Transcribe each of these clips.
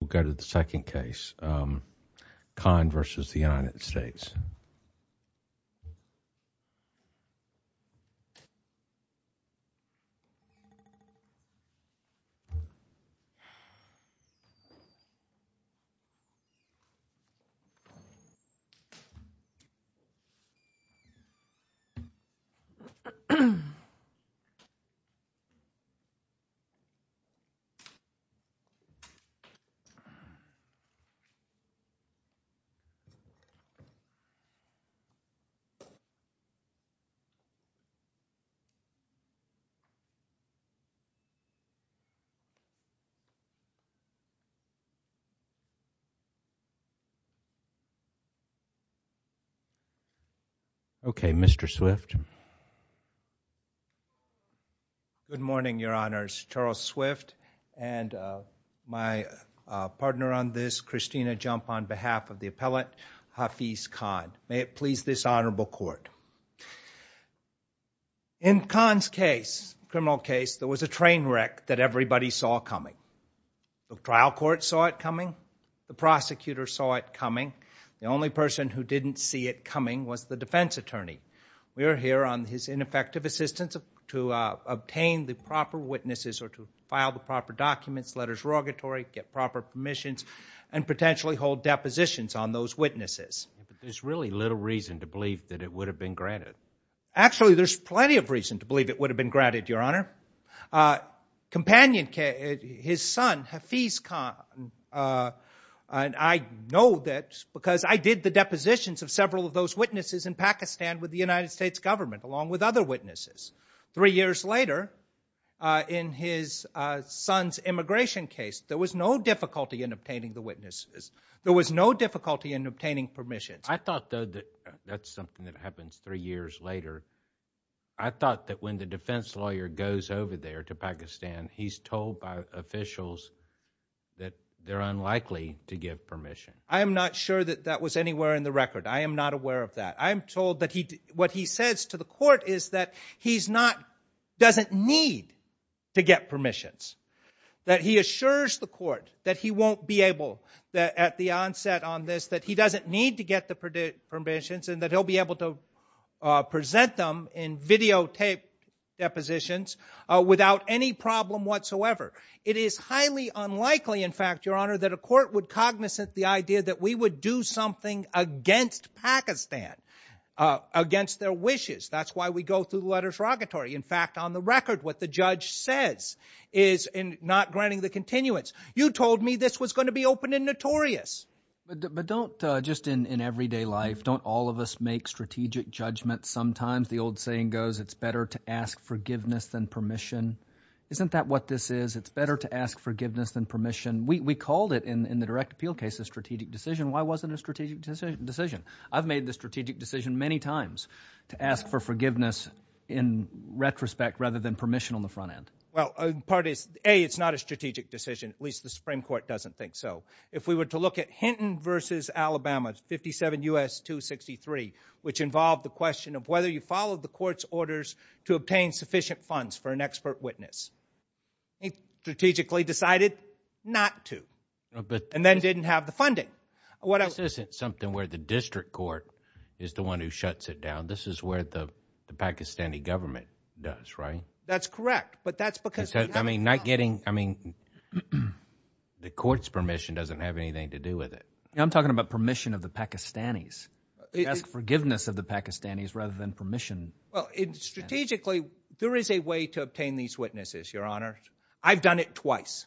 We'll go to the second case, Khan v. United States. Okay, Mr. Swift? Good morning, Your Honors. Charles Swift and my partner on this, Christina Jump, on behalf of the appellate Hafiz Khan. May it please this honorable court. In Khan's case, criminal case, there was a train wreck that everybody saw coming. The trial court saw it coming. The prosecutor saw it coming. The only person who didn't see it coming was the defense attorney. We are here on his ineffective assistance to obtain the proper witnesses or to file the proper documents, letters of rogatory, get proper permissions, and potentially hold depositions on those witnesses. There's really little reason to believe that it would have been granted. Actually, there's plenty of reason to believe it would have been granted, Your Honor. Companion, his son, Hafiz Khan, and I know that because I did the depositions of several of those witnesses in Pakistan with the United States government, along with other witnesses. Three years later, in his son's immigration case, there was no difficulty in obtaining the witnesses. There was no difficulty in obtaining permissions. I thought, though, that that's something that happens three years later. I thought that when the defense lawyer goes over there to Pakistan, he's told by officials that they're unlikely to give permission. I am not sure that that was anywhere in the case. What he says to the court is that he doesn't need to get permissions, that he assures the court that he won't be able, at the onset on this, that he doesn't need to get the permissions and that he'll be able to present them in videotaped depositions without any problem whatsoever. It is highly unlikely, in fact, Your Honor, that a court would cognizant the idea that we would do something against Pakistan, against their wishes. That's why we go through the letter of derogatory. In fact, on the record, what the judge says is, in not granting the continuance, you told me this was going to be open and notorious. But don't, just in everyday life, don't all of us make strategic judgments sometimes? The old saying goes, it's better to ask forgiveness than permission. Isn't that what this is? It's better to ask forgiveness than permission. We called it, in the direct appeal case, a strategic decision. Why wasn't it a strategic decision? I've made the strategic decision many times to ask for forgiveness in retrospect rather than permission on the front end. Well, part is, A, it's not a strategic decision. At least the Supreme Court doesn't think so. If we were to look at Hinton v. Alabama, 57 U.S. 263, which involved the question of whether you followed the court's orders to obtain sufficient funds for an expert witness. He strategically decided not to. And then didn't have the funding. This isn't something where the district court is the one who shuts it down. This is where the Pakistani government does, right? That's correct. But that's because we haven't done it. I mean, not getting, I mean, the court's permission doesn't have anything to do with it. I'm talking about permission of the Pakistanis. Ask forgiveness of the Pakistanis rather than permission. Well, strategically, there is a way to obtain these witnesses, Your Honor. I've done it twice.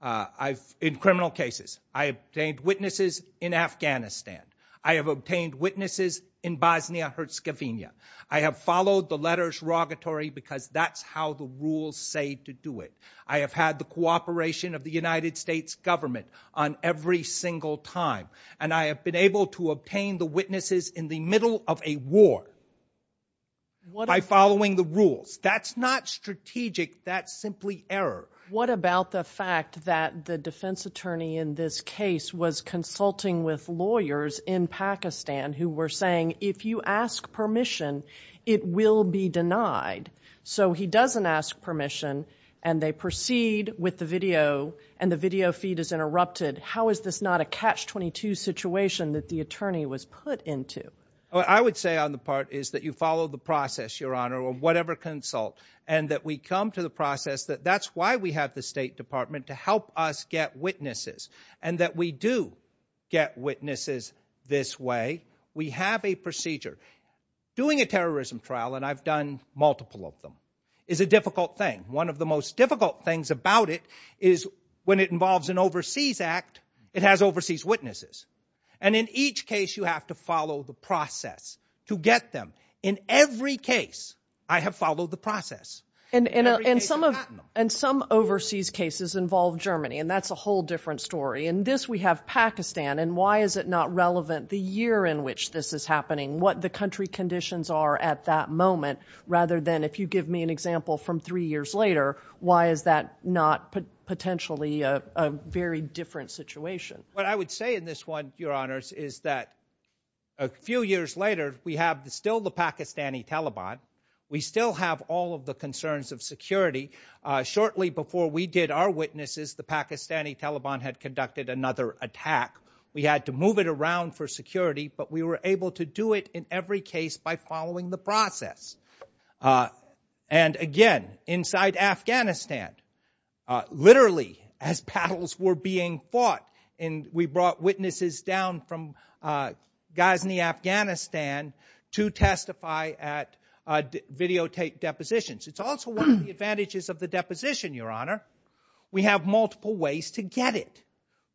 I've, in criminal cases, I obtained witnesses in Afghanistan. I have obtained witnesses in Bosnia-Herzegovina. I have followed the letters rogatory because that's how the rules say to do it. I have had the cooperation of the United States government on every single time. And I have been able to obtain the witnesses in the middle of a war by following the rules. That's not strategic. That's simply error. What about the fact that the defense attorney in this case was consulting with lawyers in Pakistan who were saying, if you ask permission, it will be denied. So he doesn't ask permission and they proceed with the video and the video feed is interrupted. How is this not a catch-22 situation that the attorney was put into? I would say on the part is that you follow the process, Your Honor, or whatever consult, and that we come to the process that that's why we have the State Department to help us get witnesses and that we do get witnesses this way. We have a procedure. Doing a terrorism trial, and I've done multiple of them, is a difficult thing. One of the most difficult things about it is when it involves an overseas act, it has overseas witnesses. And in each case you have to follow the process to get them. In every case, I have followed the process. And some overseas cases involve Germany, and that's a whole different story. In this we have Pakistan, and why is it not relevant the year in which this is happening, what the country conditions are at that moment, rather than if you give me an example from three years later, why is that not potentially a very different situation? What I would say in this one, Your Honors, is that a few years later, we have still the Pakistani Taliban. We still have all of the concerns of security. Shortly before we did our witnesses, the Pakistani Taliban had conducted another attack. We had to move it around for every case by following the process. And again, inside Afghanistan, literally as paddles were being fought, and we brought witnesses down from Ghazni, Afghanistan to testify at videotape depositions. It's also one of the advantages of the deposition, Your Honor. We have multiple ways to get it.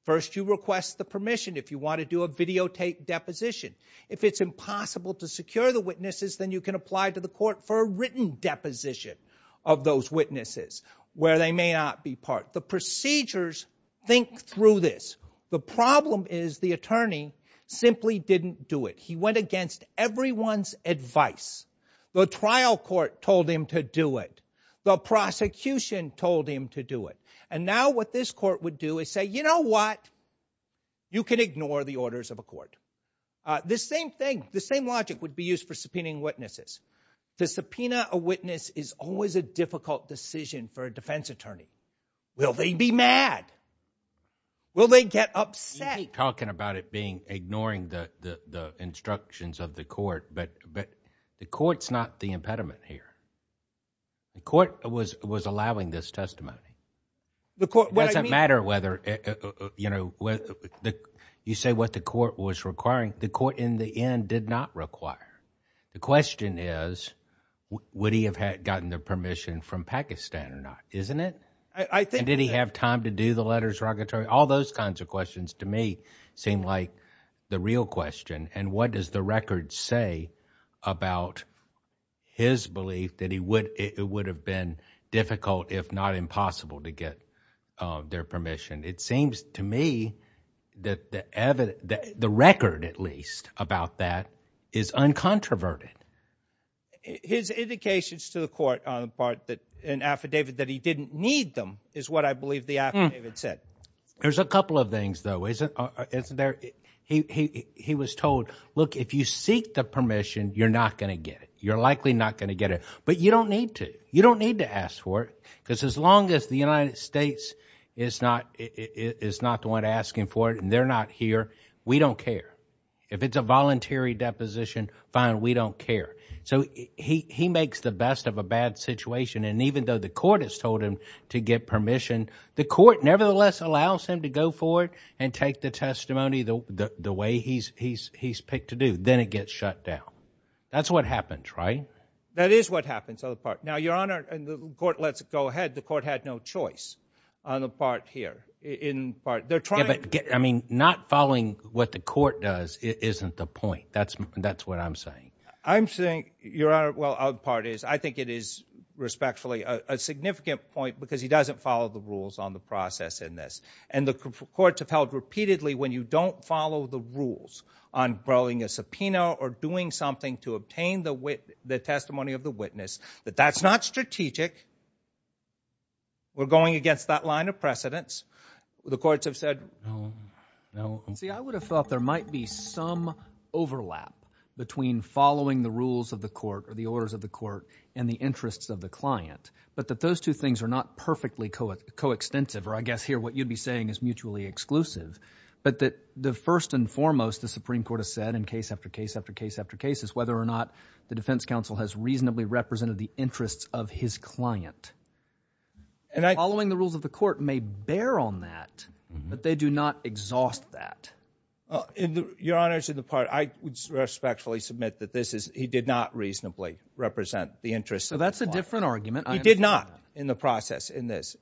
First, you request the permission if you want to do a videotape deposition. If it's impossible to secure the witnesses, then you can apply to the court for a written deposition of those witnesses where they may not be part. The procedures think through this. The problem is the attorney simply didn't do it. He went against everyone's advice. The trial court told him to do it. The prosecution told him to do it. And now what this court would do is say, you know what? You can ignore the orders of a court. The same thing, the same logic would be used for subpoenaing witnesses. To subpoena a witness is always a difficult decision for a defense attorney. Will they be mad? Will they get upset? You keep talking about it being ignoring the instructions of the court, but the court's not the impediment here. The court was allowing this testimony. It doesn't matter whether you say what the court was requiring. The court in the end did not require. The question is would he have gotten the permission from Pakistan or not, isn't it? Did he have time to do the letters of arrogance? All those kinds of questions to me seem like the real question. And what does the record say about his belief that it would have been difficult if not impossible to get their permission? It seems to me that the record at least about that is uncontroverted. His indications to the court on the part that an affidavit that he didn't need them is what I believe the affidavit said. There's a couple of things, though. He was told, look, if you seek the permission, you're not going to get it. You're likely not going to get it. But you don't need to. You don't need to ask for it. Because as long as the United States is not the one asking for it and they're not here, we don't care. If it's a voluntary deposition, fine, we don't care. So he makes the best of a bad situation. And even though the court has told him to get permission, the court nevertheless allows him to go for it and take the testimony the way he's picked to do. Then it gets shut down. That's what happens, right? That is what happens on the part. Now, Your Honor, and the court lets it go ahead. The court had no choice on the part here. I mean, not following what the court does isn't the point. That's what I'm saying. I'm saying, Your Honor, well, I think it is respectfully a significant point because he doesn't follow the rules on the process in this. And the courts have held repeatedly when you don't follow the rules on growing a subpoena or doing something to obtain the testimony of the witness, that that's not strategic. We're going against that line of precedence. The courts have said, no, no. See, I would have thought there might be some overlap between following the rules of the client, but that those two things are not perfectly coextensive, or I guess here what you'd be saying is mutually exclusive, but that the first and foremost, the Supreme Court has said in case after case after case after case is whether or not the defense counsel has reasonably represented the interests of his client. Following the rules of the court may bear on that, but they do not exhaust that. Your Honor, to the part, I would respectfully submit that he did not reasonably represent the interests of his client. So that's a different argument. He did not in the process in this.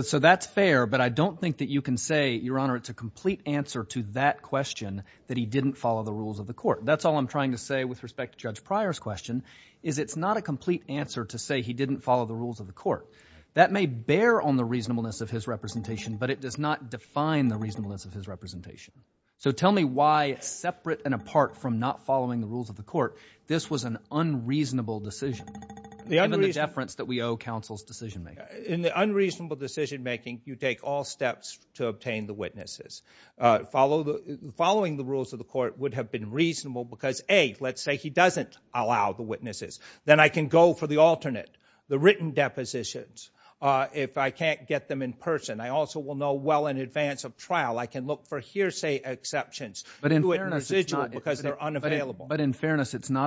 So that's fair, but I don't think that you can say, Your Honor, it's a complete answer to that question that he didn't follow the rules of the court. That's all I'm trying to say with respect to Judge Pryor's question is it's not a complete answer to say he didn't follow the rules of the court. That may bear on the reasonableness of his representation, but it does not define the reasonableness of his representation. So tell me why separate and apart from not following the rules of the court, this was an unreasonable decision. The deference that we owe counsel's decision-making. In the unreasonable decision-making, you take all steps to obtain the witnesses. Following the rules of the court would have been reasonable because A, let's say he doesn't allow the witnesses. Then I can go for the alternate, the written depositions. If I can't get them in person, I also will know well in advance of trial, I can look for hearsay exceptions. But in fairness, it's not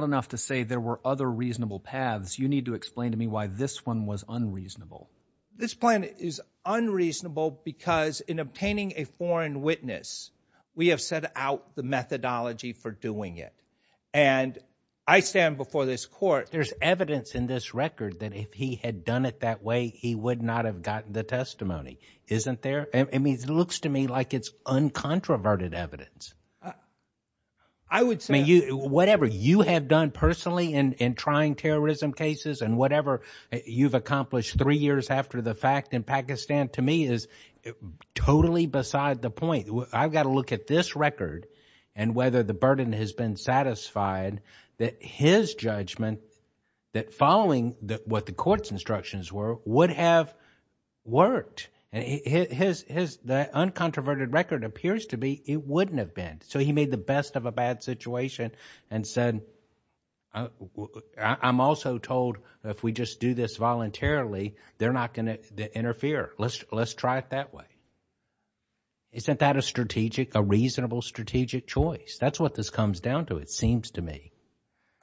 enough to say there were other reasonable paths. You need to explain to me why this one was unreasonable. This plan is unreasonable because in obtaining a foreign witness, we have set out the methodology for doing it. And I stand before this court. There's evidence in this record that if he had done it that way, he would not have gotten the testimony. Isn't there? I mean, it looks to me like it's uncontroverted evidence. I would say whatever you have done personally in trying terrorism cases and whatever you've accomplished three years after the fact in Pakistan to me is totally beside the point. I've got to look at this record and whether the burden has been satisfied that his judgment that following what the court's instructions were would have worked. His uncontroverted record appears to be it wouldn't have been. So he made the best of a bad situation and said, I'm also told if we just do this voluntarily, they're not going to interfere. Let's try it that way. Isn't that a strategic, a reasonable strategic choice? That's what this comes down to, it seems to me.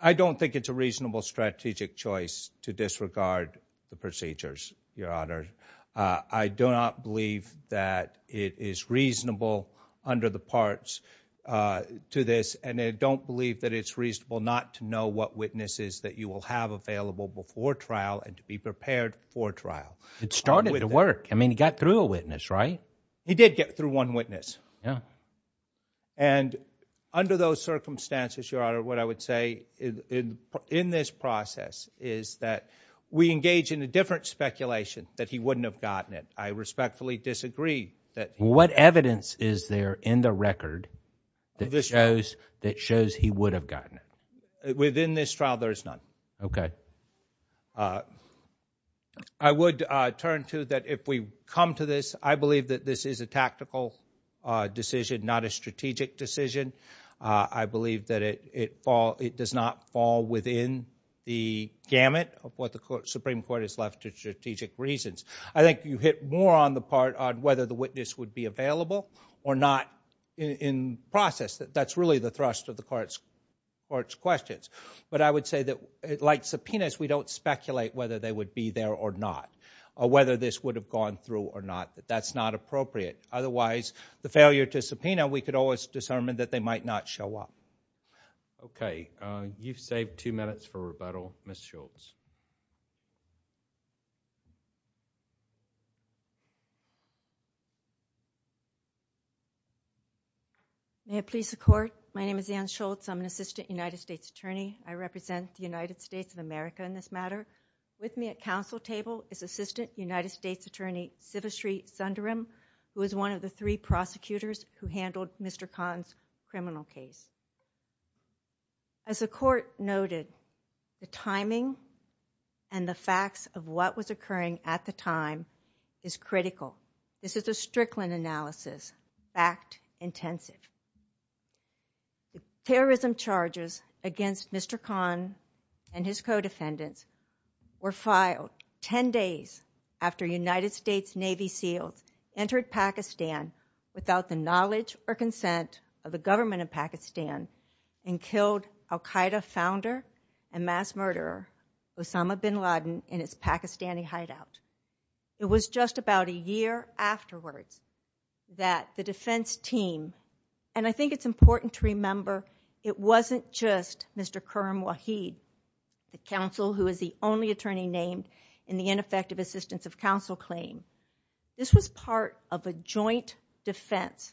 I don't think it's a reasonable strategic choice to disregard the procedures, Your Honor. I do not believe that it is reasonable under the parts to this and I don't believe that it's reasonable not to know what witnesses that you will have available before trial and to be prepared for trial. It started to work. I mean, he got through a witness, right? He did get through one witness. And under those circumstances, Your Honor, what I would say in this process is that we engage in a different speculation that he wouldn't have gotten it. I respectfully disagree that he would have gotten it. What evidence is there in the record that shows he would have gotten it? Within this trial, there is none. Okay. I would turn to that if we come to this, I believe that this is a tactical decision, not a strategic decision. I believe that it does not fall within the gamut of what the Supreme Court has left to strategic reasons. I think you hit more on the part on whether the witness would be available or not in process. That's really the thrust of the court's questions. But I would say that, like subpoenas, we don't speculate whether they would be there or not or whether this would have gone through or not. That's not appropriate. Otherwise, the failure to subpoena, we could always discern that they might not show up. You've saved two minutes for rebuttal, Ms. Schultz. May it please the Court? My name is Ann Schultz. I'm an Assistant United States Attorney. I represent the United States of America in this matter. With me at council table is Assistant United States Attorney Sivashree Sundaram, who is one of the three prosecutors who handled Mr. Khan's criminal case. As the Court noted, the timing and the facts of what was occurring at the time is critical. This is a Strickland analysis, fact-intensive. Terrorism charges against Mr. Khan and his co-defendants were filed 10 days after United States Navy SEALs entered Pakistan without the knowledge or consent of the government of Pakistan and killed al-Qaeda founder and mass murderer Osama bin Laden in his Pakistani hideout. It was just about a year afterwards that the defense team, and I think it's important to remember it wasn't just Mr. Khurram Waheed, the counsel who is the only attorney named in the ineffective assistance of counsel claim. This was part of a joint defense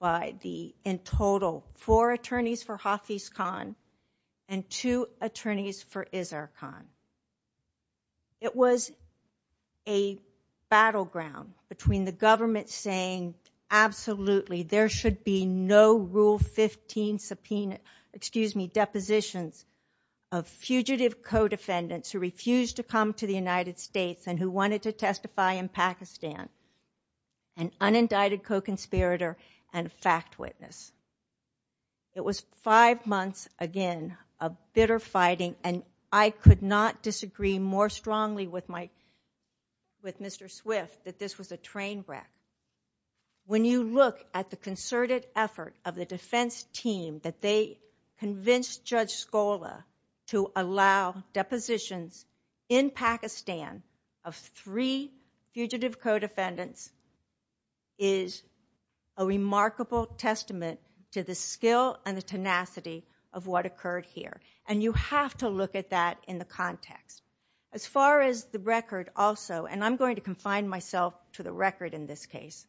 by the, in total, four attorneys for Hafiz Khan and two attorneys for Izzer Khan. It was a battleground between the government saying absolutely there should be no Rule 15 subpoena, excuse me, depositions of fugitive co-defendants who refused to come to the United States and who wanted to testify in Pakistan, an unindicted co-conspirator and fact witness. It was five months again of bitter fighting and I could not disagree more strongly with my, with Mr. Swift that this was a train wreck. When you look at the concerted effort of the defense team that they convinced Judge Scola to allow depositions in Pakistan of three fugitive co-defendants is a remarkable testament to the skill and the tenacity of what occurred here and you have to look at that in the context. As far as the record also, and I'm going to confine myself to the record in this case.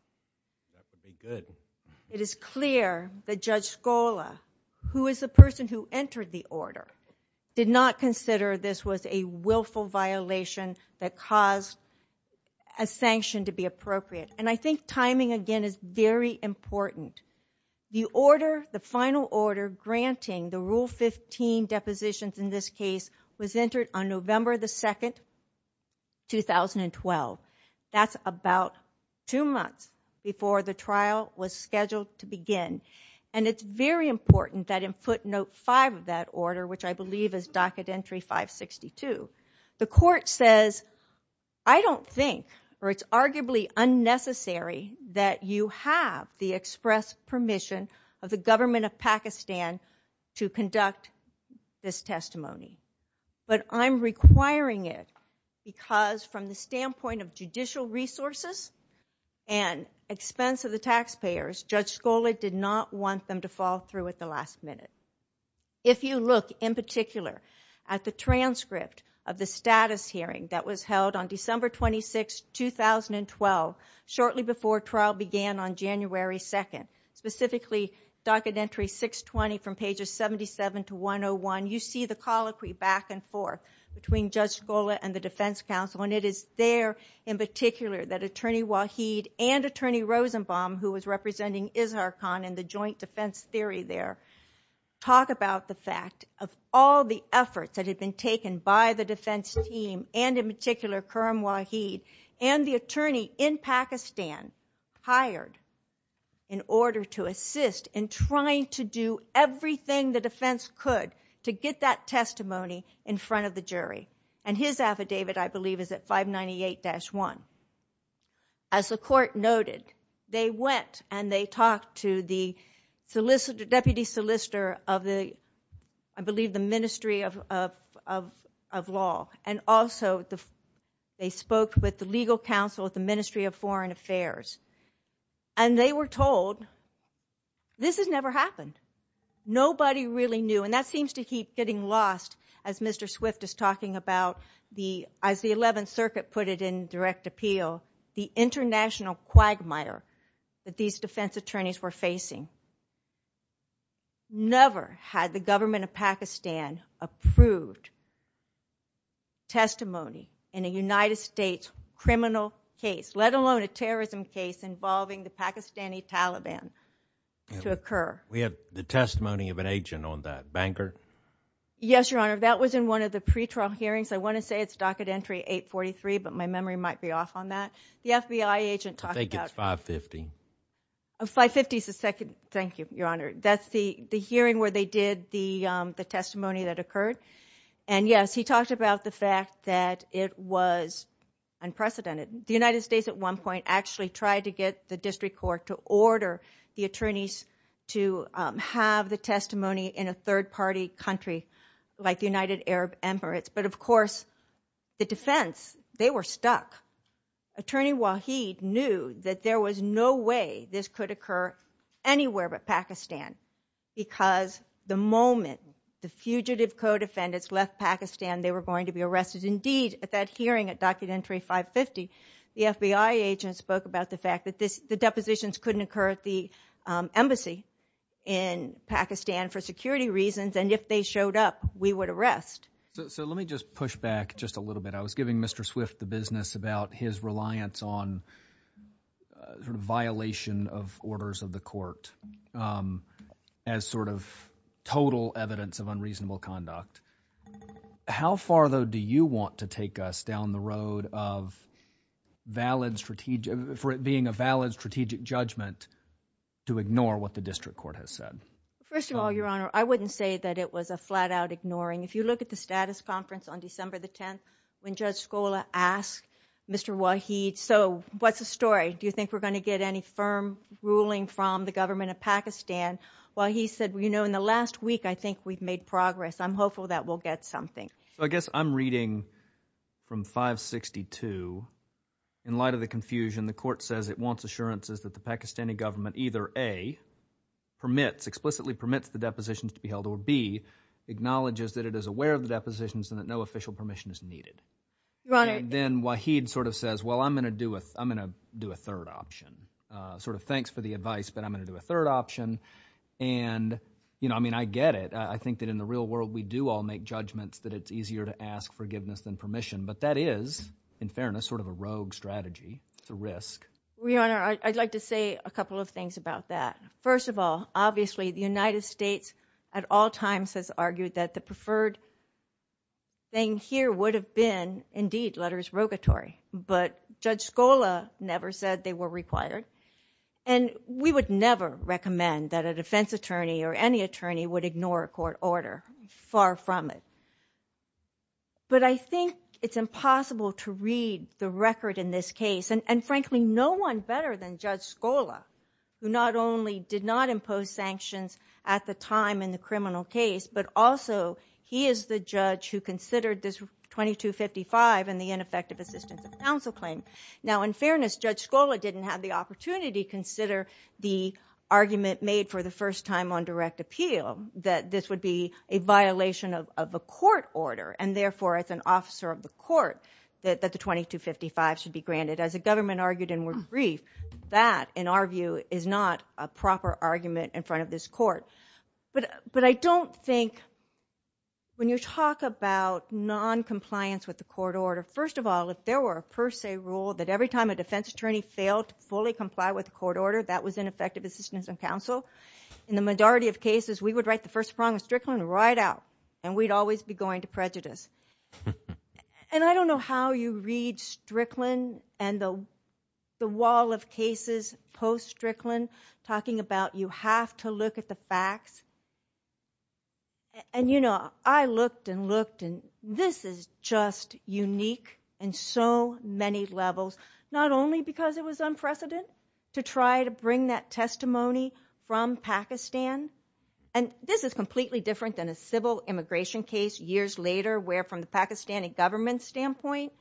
It is clear that Judge Scola, who is the person who entered the order, did not consider this was a willful violation that caused a sanction to be appropriate and I think timing again is very important. The order, the final order granting the Rule 15 depositions in this case was entered on November the 2nd, 2012. That's about two months before the trial was scheduled to begin and it's very important that in footnote five of that order, which I believe is docket entry 562, the court says, I don't think or it's arguably unnecessary that you have the express permission of the government of Pakistan to conduct this testimony, but I'm requiring it because from the standpoint of judicial resources and expense of the taxpayers, Judge Scola did not want them to fall through at the last minute. If you look in particular at the transcript of the status hearing that was held on December 26, 2012, shortly before trial began on January 2nd, specifically docket entry 620 from pages 77 to 101, you see the colloquy back and forth between Judge Scola and the defense counsel and it is there in particular that Attorney Waheed and Attorney Rosenbaum, who was representing Ishar Khan in the joint defense theory there, talk about the fact of all the efforts that had been taken by the defense team and in particular Karim Waheed and the attorney in Pakistan hired in order to assist in trying to do everything the defense could to get that testimony in front of the jury. And his affidavit I believe is at 598-1. As the court noted, they went and they talked to the deputy solicitor of the, I believe, the Ministry of Law and also they spoke with the legal counsel of the Ministry of Foreign Affairs and they were told this has never happened. Nobody really knew and that seems to keep getting lost as Mr. Swift is talking about the, as the 11th Circuit put it in direct appeal, the international quagmire that these defense attorneys were facing. Never had the government of Pakistan approved testimony in a United States criminal case, let alone a terrorism case involving the Pakistani Taliban to occur. We have the testimony of an agent on that, Banker? Yes, Your Honor. That was in one of the pretrial hearings. I want to say it's docket entry so I'm going to cut you off on that. The FBI agent talked about... I think it's 550. 550 is the second, thank you, Your Honor. That's the hearing where they did the testimony that occurred. And yes, he talked about the fact that it was unprecedented. The United States at one point actually tried to get the district court to order the attorneys to have the testimony in a third party country like the United Arab Emirates. But of course, the defense, they were stuck. Attorney Waheed knew that there was no way this could occur anywhere but Pakistan because the moment the fugitive co-defendants left Pakistan they were going to be arrested. Indeed, at that hearing at docket entry 550, the FBI agent spoke about the fact that the depositions couldn't occur at the embassy in Pakistan for security reasons and if they showed up, we would arrest. So let me just push back just a little bit. I was giving Mr. Swift the business about his reliance on sort of violation of orders of the court as sort of total evidence of unreasonable conduct. How far though do you want to take us down the road of valid, for it being a valid strategic judgment to ignore what the district court has said? First of all, Your Honor, I wouldn't say that it was a flat out ignoring. If you look at the status conference on December the 10th when Judge Scola asked Mr. Waheed, so what's the story? Do you think we're going to get any firm ruling from the government of Pakistan? Waheed said, you know, in the last week I think we've made progress. I'm hopeful that we'll get something. I guess I'm reading from 562. In light of the confusion, the court says it wants assurances that the Pakistani government either A, permits, explicitly permits the depositions to be held or B, acknowledges that it is aware of the depositions and that no official permission is needed. Your Honor. And then Waheed sort of says, well, I'm going to do a third option. Sort of thanks for the advice, but I'm going to do a third option. And, you know, I mean, I get it. I think that in the real world we do all make judgments that it's easier to ask forgiveness than permission. But that is, in fairness, sort of a rogue strategy. It's a risk. Your Honor, I'd like to say a couple of things about that. First of all, obviously the United States at all times has argued that the preferred thing here would have been, indeed, letters rogatory. But Judge Scola never said they were required. And we would never recommend that a defense attorney or any attorney would ignore a court order. Far from it. But I think it's impossible to read the record in this case. And frankly, no one better than the time in the criminal case. But also, he is the judge who considered this 2255 and the ineffective assistance of counsel claim. Now, in fairness, Judge Scola didn't have the opportunity to consider the argument made for the first time on direct appeal that this would be a violation of a court order. And therefore, as an officer of the court, that the 2255 should be granted. As the government argued in word brief, that, in our view, is not a proper argument in front of this court. But I don't think, when you talk about noncompliance with the court order, first of all, if there were a per se rule that every time a defense attorney failed to fully comply with the court order, that was ineffective assistance of counsel, in the majority of cases, we would write the first prong of Strickland right out. And we'd always be going to prejudice. And I don't know how you read Strickland and the wall of cases post-Strickland talking about you have to look at the facts. And, you know, I looked and looked, and this is just unique in so many levels, not only because it was unprecedented to try to bring that testimony from Pakistan, and this is completely different than a civil immigration case years later where, from the Pakistani government standpoint,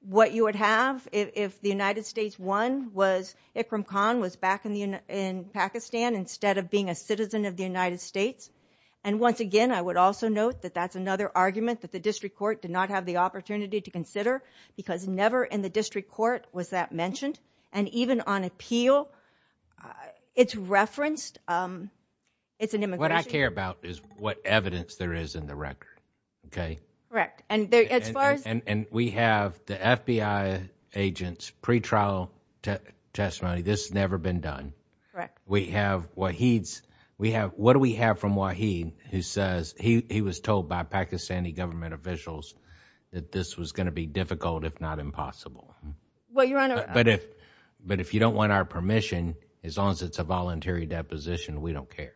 what you would have if the United States. And once again, I would also note that that's another argument that the district court did not have the opportunity to consider because never in the district court was that mentioned. And even on appeal, it's referenced, it's an immigration. What I care about is what evidence there is in the record, okay? Correct. And as far as... And we have the FBI agent's pretrial testimony. This has never been done. Correct. We have Waheed's, we have, what do we have from Waheed who says, he was told by Pakistani government officials that this was going to be difficult, if not impossible. Well, Your Honor... But if you don't want our permission, as long as it's a voluntary deposition, we don't care.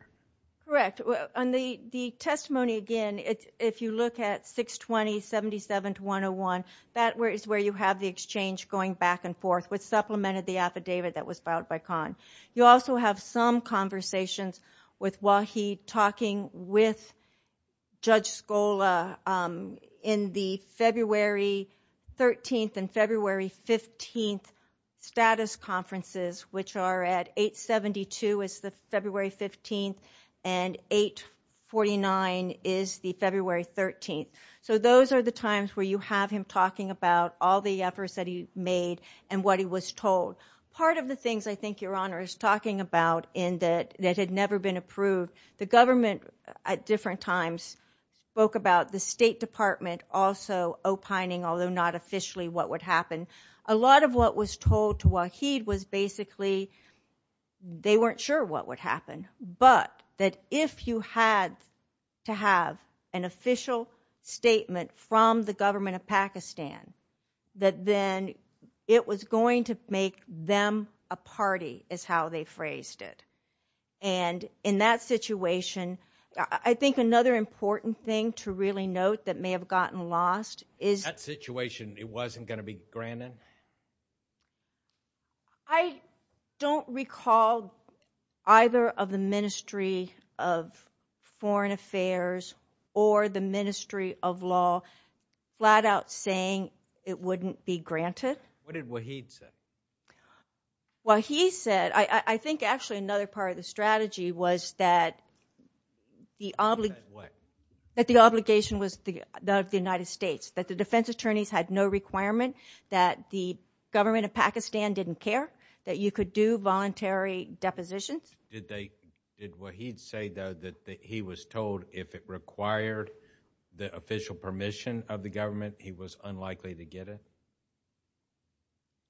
Correct. On the testimony again, if you look at 62077-101, that is where you have the exchange going back and forth, which supplemented the affidavit that was filed by Khan. You also have some conversations with Waheed talking with Judge Scola in the February 13th and February 15th status conferences, which are at 872 is the February 15th, and 849 is the February 13th. So those are the times where you have him talking about all the efforts that he made and what he was told. Part of the things I think Your Honor is talking about that had never been approved, the government at different times spoke about the State Department also opining, although not officially, what would happen. A lot of what was told to Waheed was basically, they weren't sure what would happen, but that if you had to have an official statement from the government of Pakistan, that then it was going to make them a party, is how they phrased it. And in that situation, I think another important thing to really note that may have gotten lost is... That situation, it wasn't going to be granted? I don't recall either of the Ministry of Foreign Affairs or the Ministry of Law flat out saying it wouldn't be granted. What did Waheed say? Waheed said, I think actually another part of the strategy was that the obligation was that of the United States, that the defense attorneys had no requirement that the government of Pakistan didn't care, that you could do voluntary depositions. Did Waheed say, though, that he was told if it required the official permission of the government, he was unlikely to get it?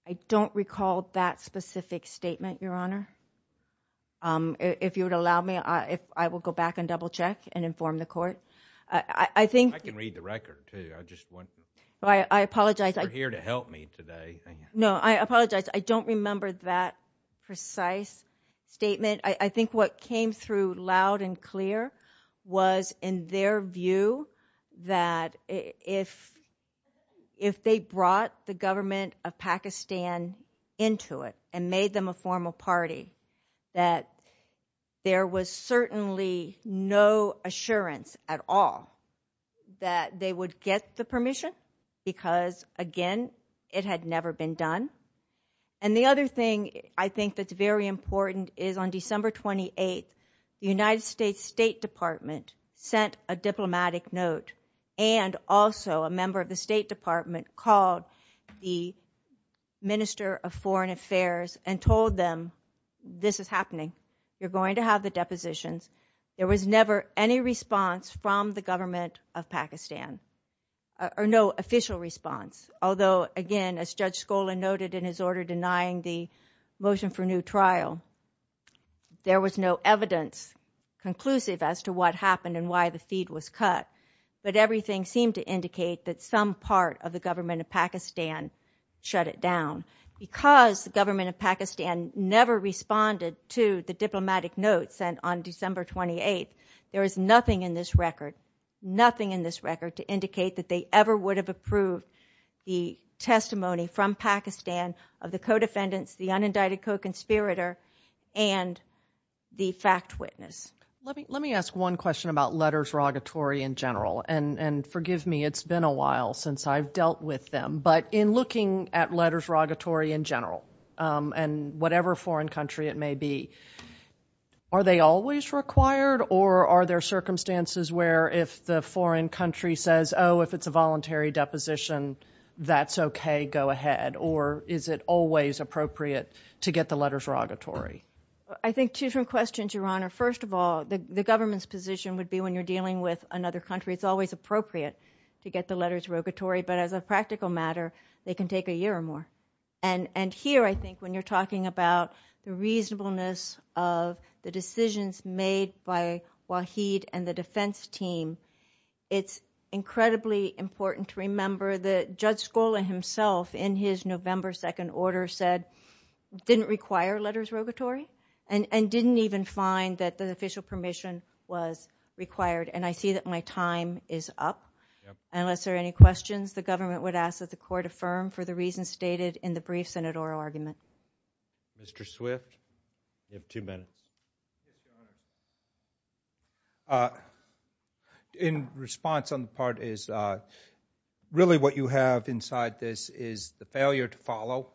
I don't recall that specific statement, Your Honor. If you would allow me, I will go back and double check and inform the court. I can read the record, too. I apologize. You're here to help me today. No, I apologize. I don't remember that precise statement. I think what came through loud and clear was in their view that if they brought the government of Pakistan into it and made them a formal party, that there was certainly no assurance at all that they would get the permission because, again, it had never been done. And the other thing I think that's very important is on December 28th, the United States State Department sent a diplomatic note and also a member of the State Department called the court and told them, this is happening, you're going to have the depositions. There was never any response from the government of Pakistan, or no official response, although, again, as Judge Skola noted in his order denying the motion for new trial, there was no evidence conclusive as to what happened and why the feed was cut, but everything seemed to indicate that some part of the government of Pakistan shut it down. Because the government of Pakistan never responded to the diplomatic note sent on December 28th, there is nothing in this record, nothing in this record to indicate that they ever would have approved the testimony from Pakistan of the co-defendants, the unindicted co-conspirator and the fact witness. Let me ask one question about letters rogatory in general, and forgive me, it's been a while since I've dealt with them, but in looking at letters rogatory in general, and whatever foreign country it may be, are they always required or are there circumstances where if the foreign country says, oh, if it's a voluntary deposition, that's okay, go ahead, or is it always appropriate to get the letters rogatory? I think two different questions, Your Honor. First of all, the government's position would be when you're dealing with another country, it's always appropriate to get the letters rogatory, but as a practical matter, they can take a year or more. And here I think when you're talking about the reasonableness of the decisions made by Waheed and the defense team, it's incredibly important to remember that Judge Scola himself in his November 2nd order said, didn't require letters rogatory, and didn't even find that the official permission was required, and I see that my time is up. Unless there are any questions, the government would ask that the court affirm for the reasons stated in the brief Senate oral argument. Mr. Swift, you have two minutes. In response on the part is, really what you have inside this is the failure to follow.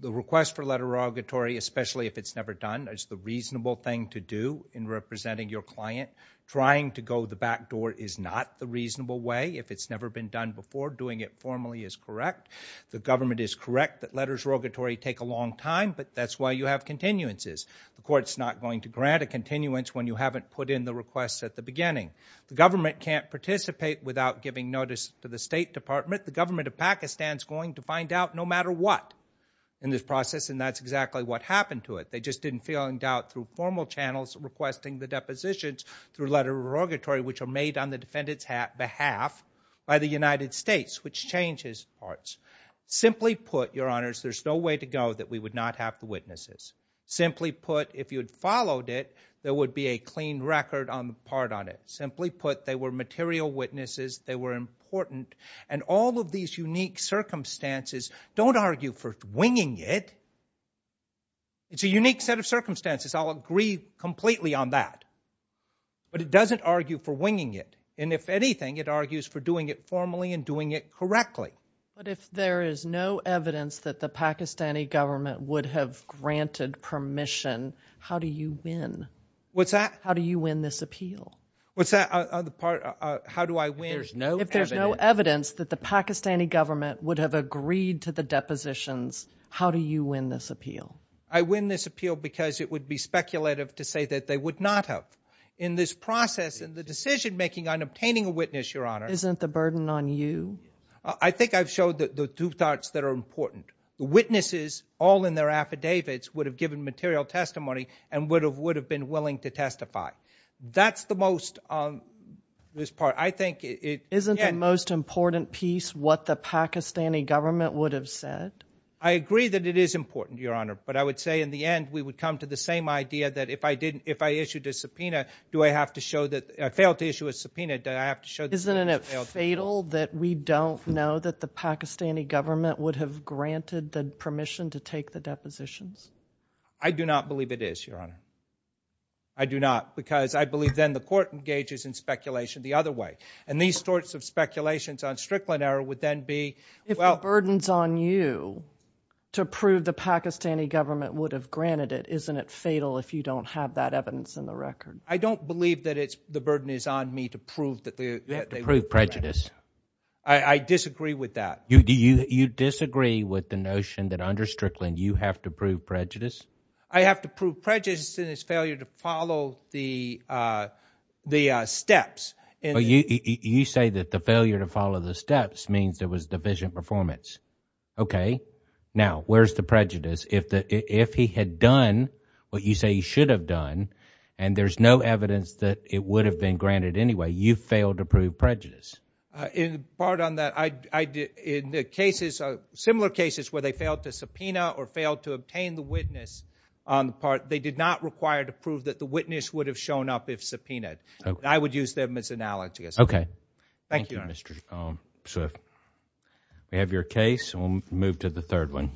The request for letter rogatory, especially if it's never done, is the reasonable thing to do in representing your client. Trying to go the back door is not the reasonable way. If it's never been done before, doing it formally is correct. The government is correct that letters rogatory take a long time, but that's why you have continuances. The court's not going to grant a continuance when you haven't put in the requests at the beginning. The government can't participate without giving notice to the State Department. The government of Pakistan's going to find out no matter what in this process, and that's exactly what happened to it. They just didn't fill in doubt through formal channels requesting the depositions through letter rogatory, which are made on the defendant's behalf by the United States, which changes parts. Simply put, your honors, there's no way to go that we would not have the witnesses. Simply put, if you had followed it, there would be a clean record on the part on it. Simply put, they were material witnesses, they were important, and all of these unique circumstances don't argue for winging it. It's a unique set of circumstances. I'll agree completely on that. But it doesn't argue for winging it. And if anything, it argues for doing it formally and doing it correctly. But if there is no evidence that the Pakistani government would have granted permission, how do you win? What's that? How do you win this appeal? What's that? How do I win? If there's no evidence. If there's no evidence that the Pakistani government would have agreed to the depositions, how do you win this appeal? I win this appeal because it would be speculative to say that they would not have. In this process, in the decision making on obtaining a witness, your honor. Isn't the burden on you? I think I've showed the two thoughts that are important. The witnesses, all in their affidavits, would have given material testimony and would have been willing to testify. That's the most part. Isn't the most important piece what the Pakistani government would have said? I agree that it is important, your honor. But I would say in the end, we would come to the same idea that if I issued a subpoena, do I have to show that I failed to issue a subpoena? Isn't it fatal that we don't know that the Pakistani government would have granted the permission to take the depositions? I do not believe it is, your honor. I do not. Because I believe then the court engages in speculation the other way. And these sorts of speculations on Strickland error would then be... If the burden's on you to prove the Pakistani government would have granted it, isn't it fatal if you don't have that evidence in the record? I don't believe that the burden is on me to prove that they would have granted it. You have to prove prejudice. I disagree with that. You disagree with the notion that under Strickland, you have to prove prejudice? I have to prove prejudice in his failure to follow the steps. You say that the failure to follow the steps means there was deficient performance. Okay. Now, where's the prejudice? If he had done what you say he should have done, and there's no evidence that it would have been granted anyway, you failed to prove prejudice. In part on that, in similar cases where they failed to subpoena or failed to obtain the witness on the part, they did not require to prove that the witness would have shown up if subpoenaed. I would use them as analogies. Thank you, Your Honor. Thank you, Mr. Swift. We have your case, and we'll move to the third one.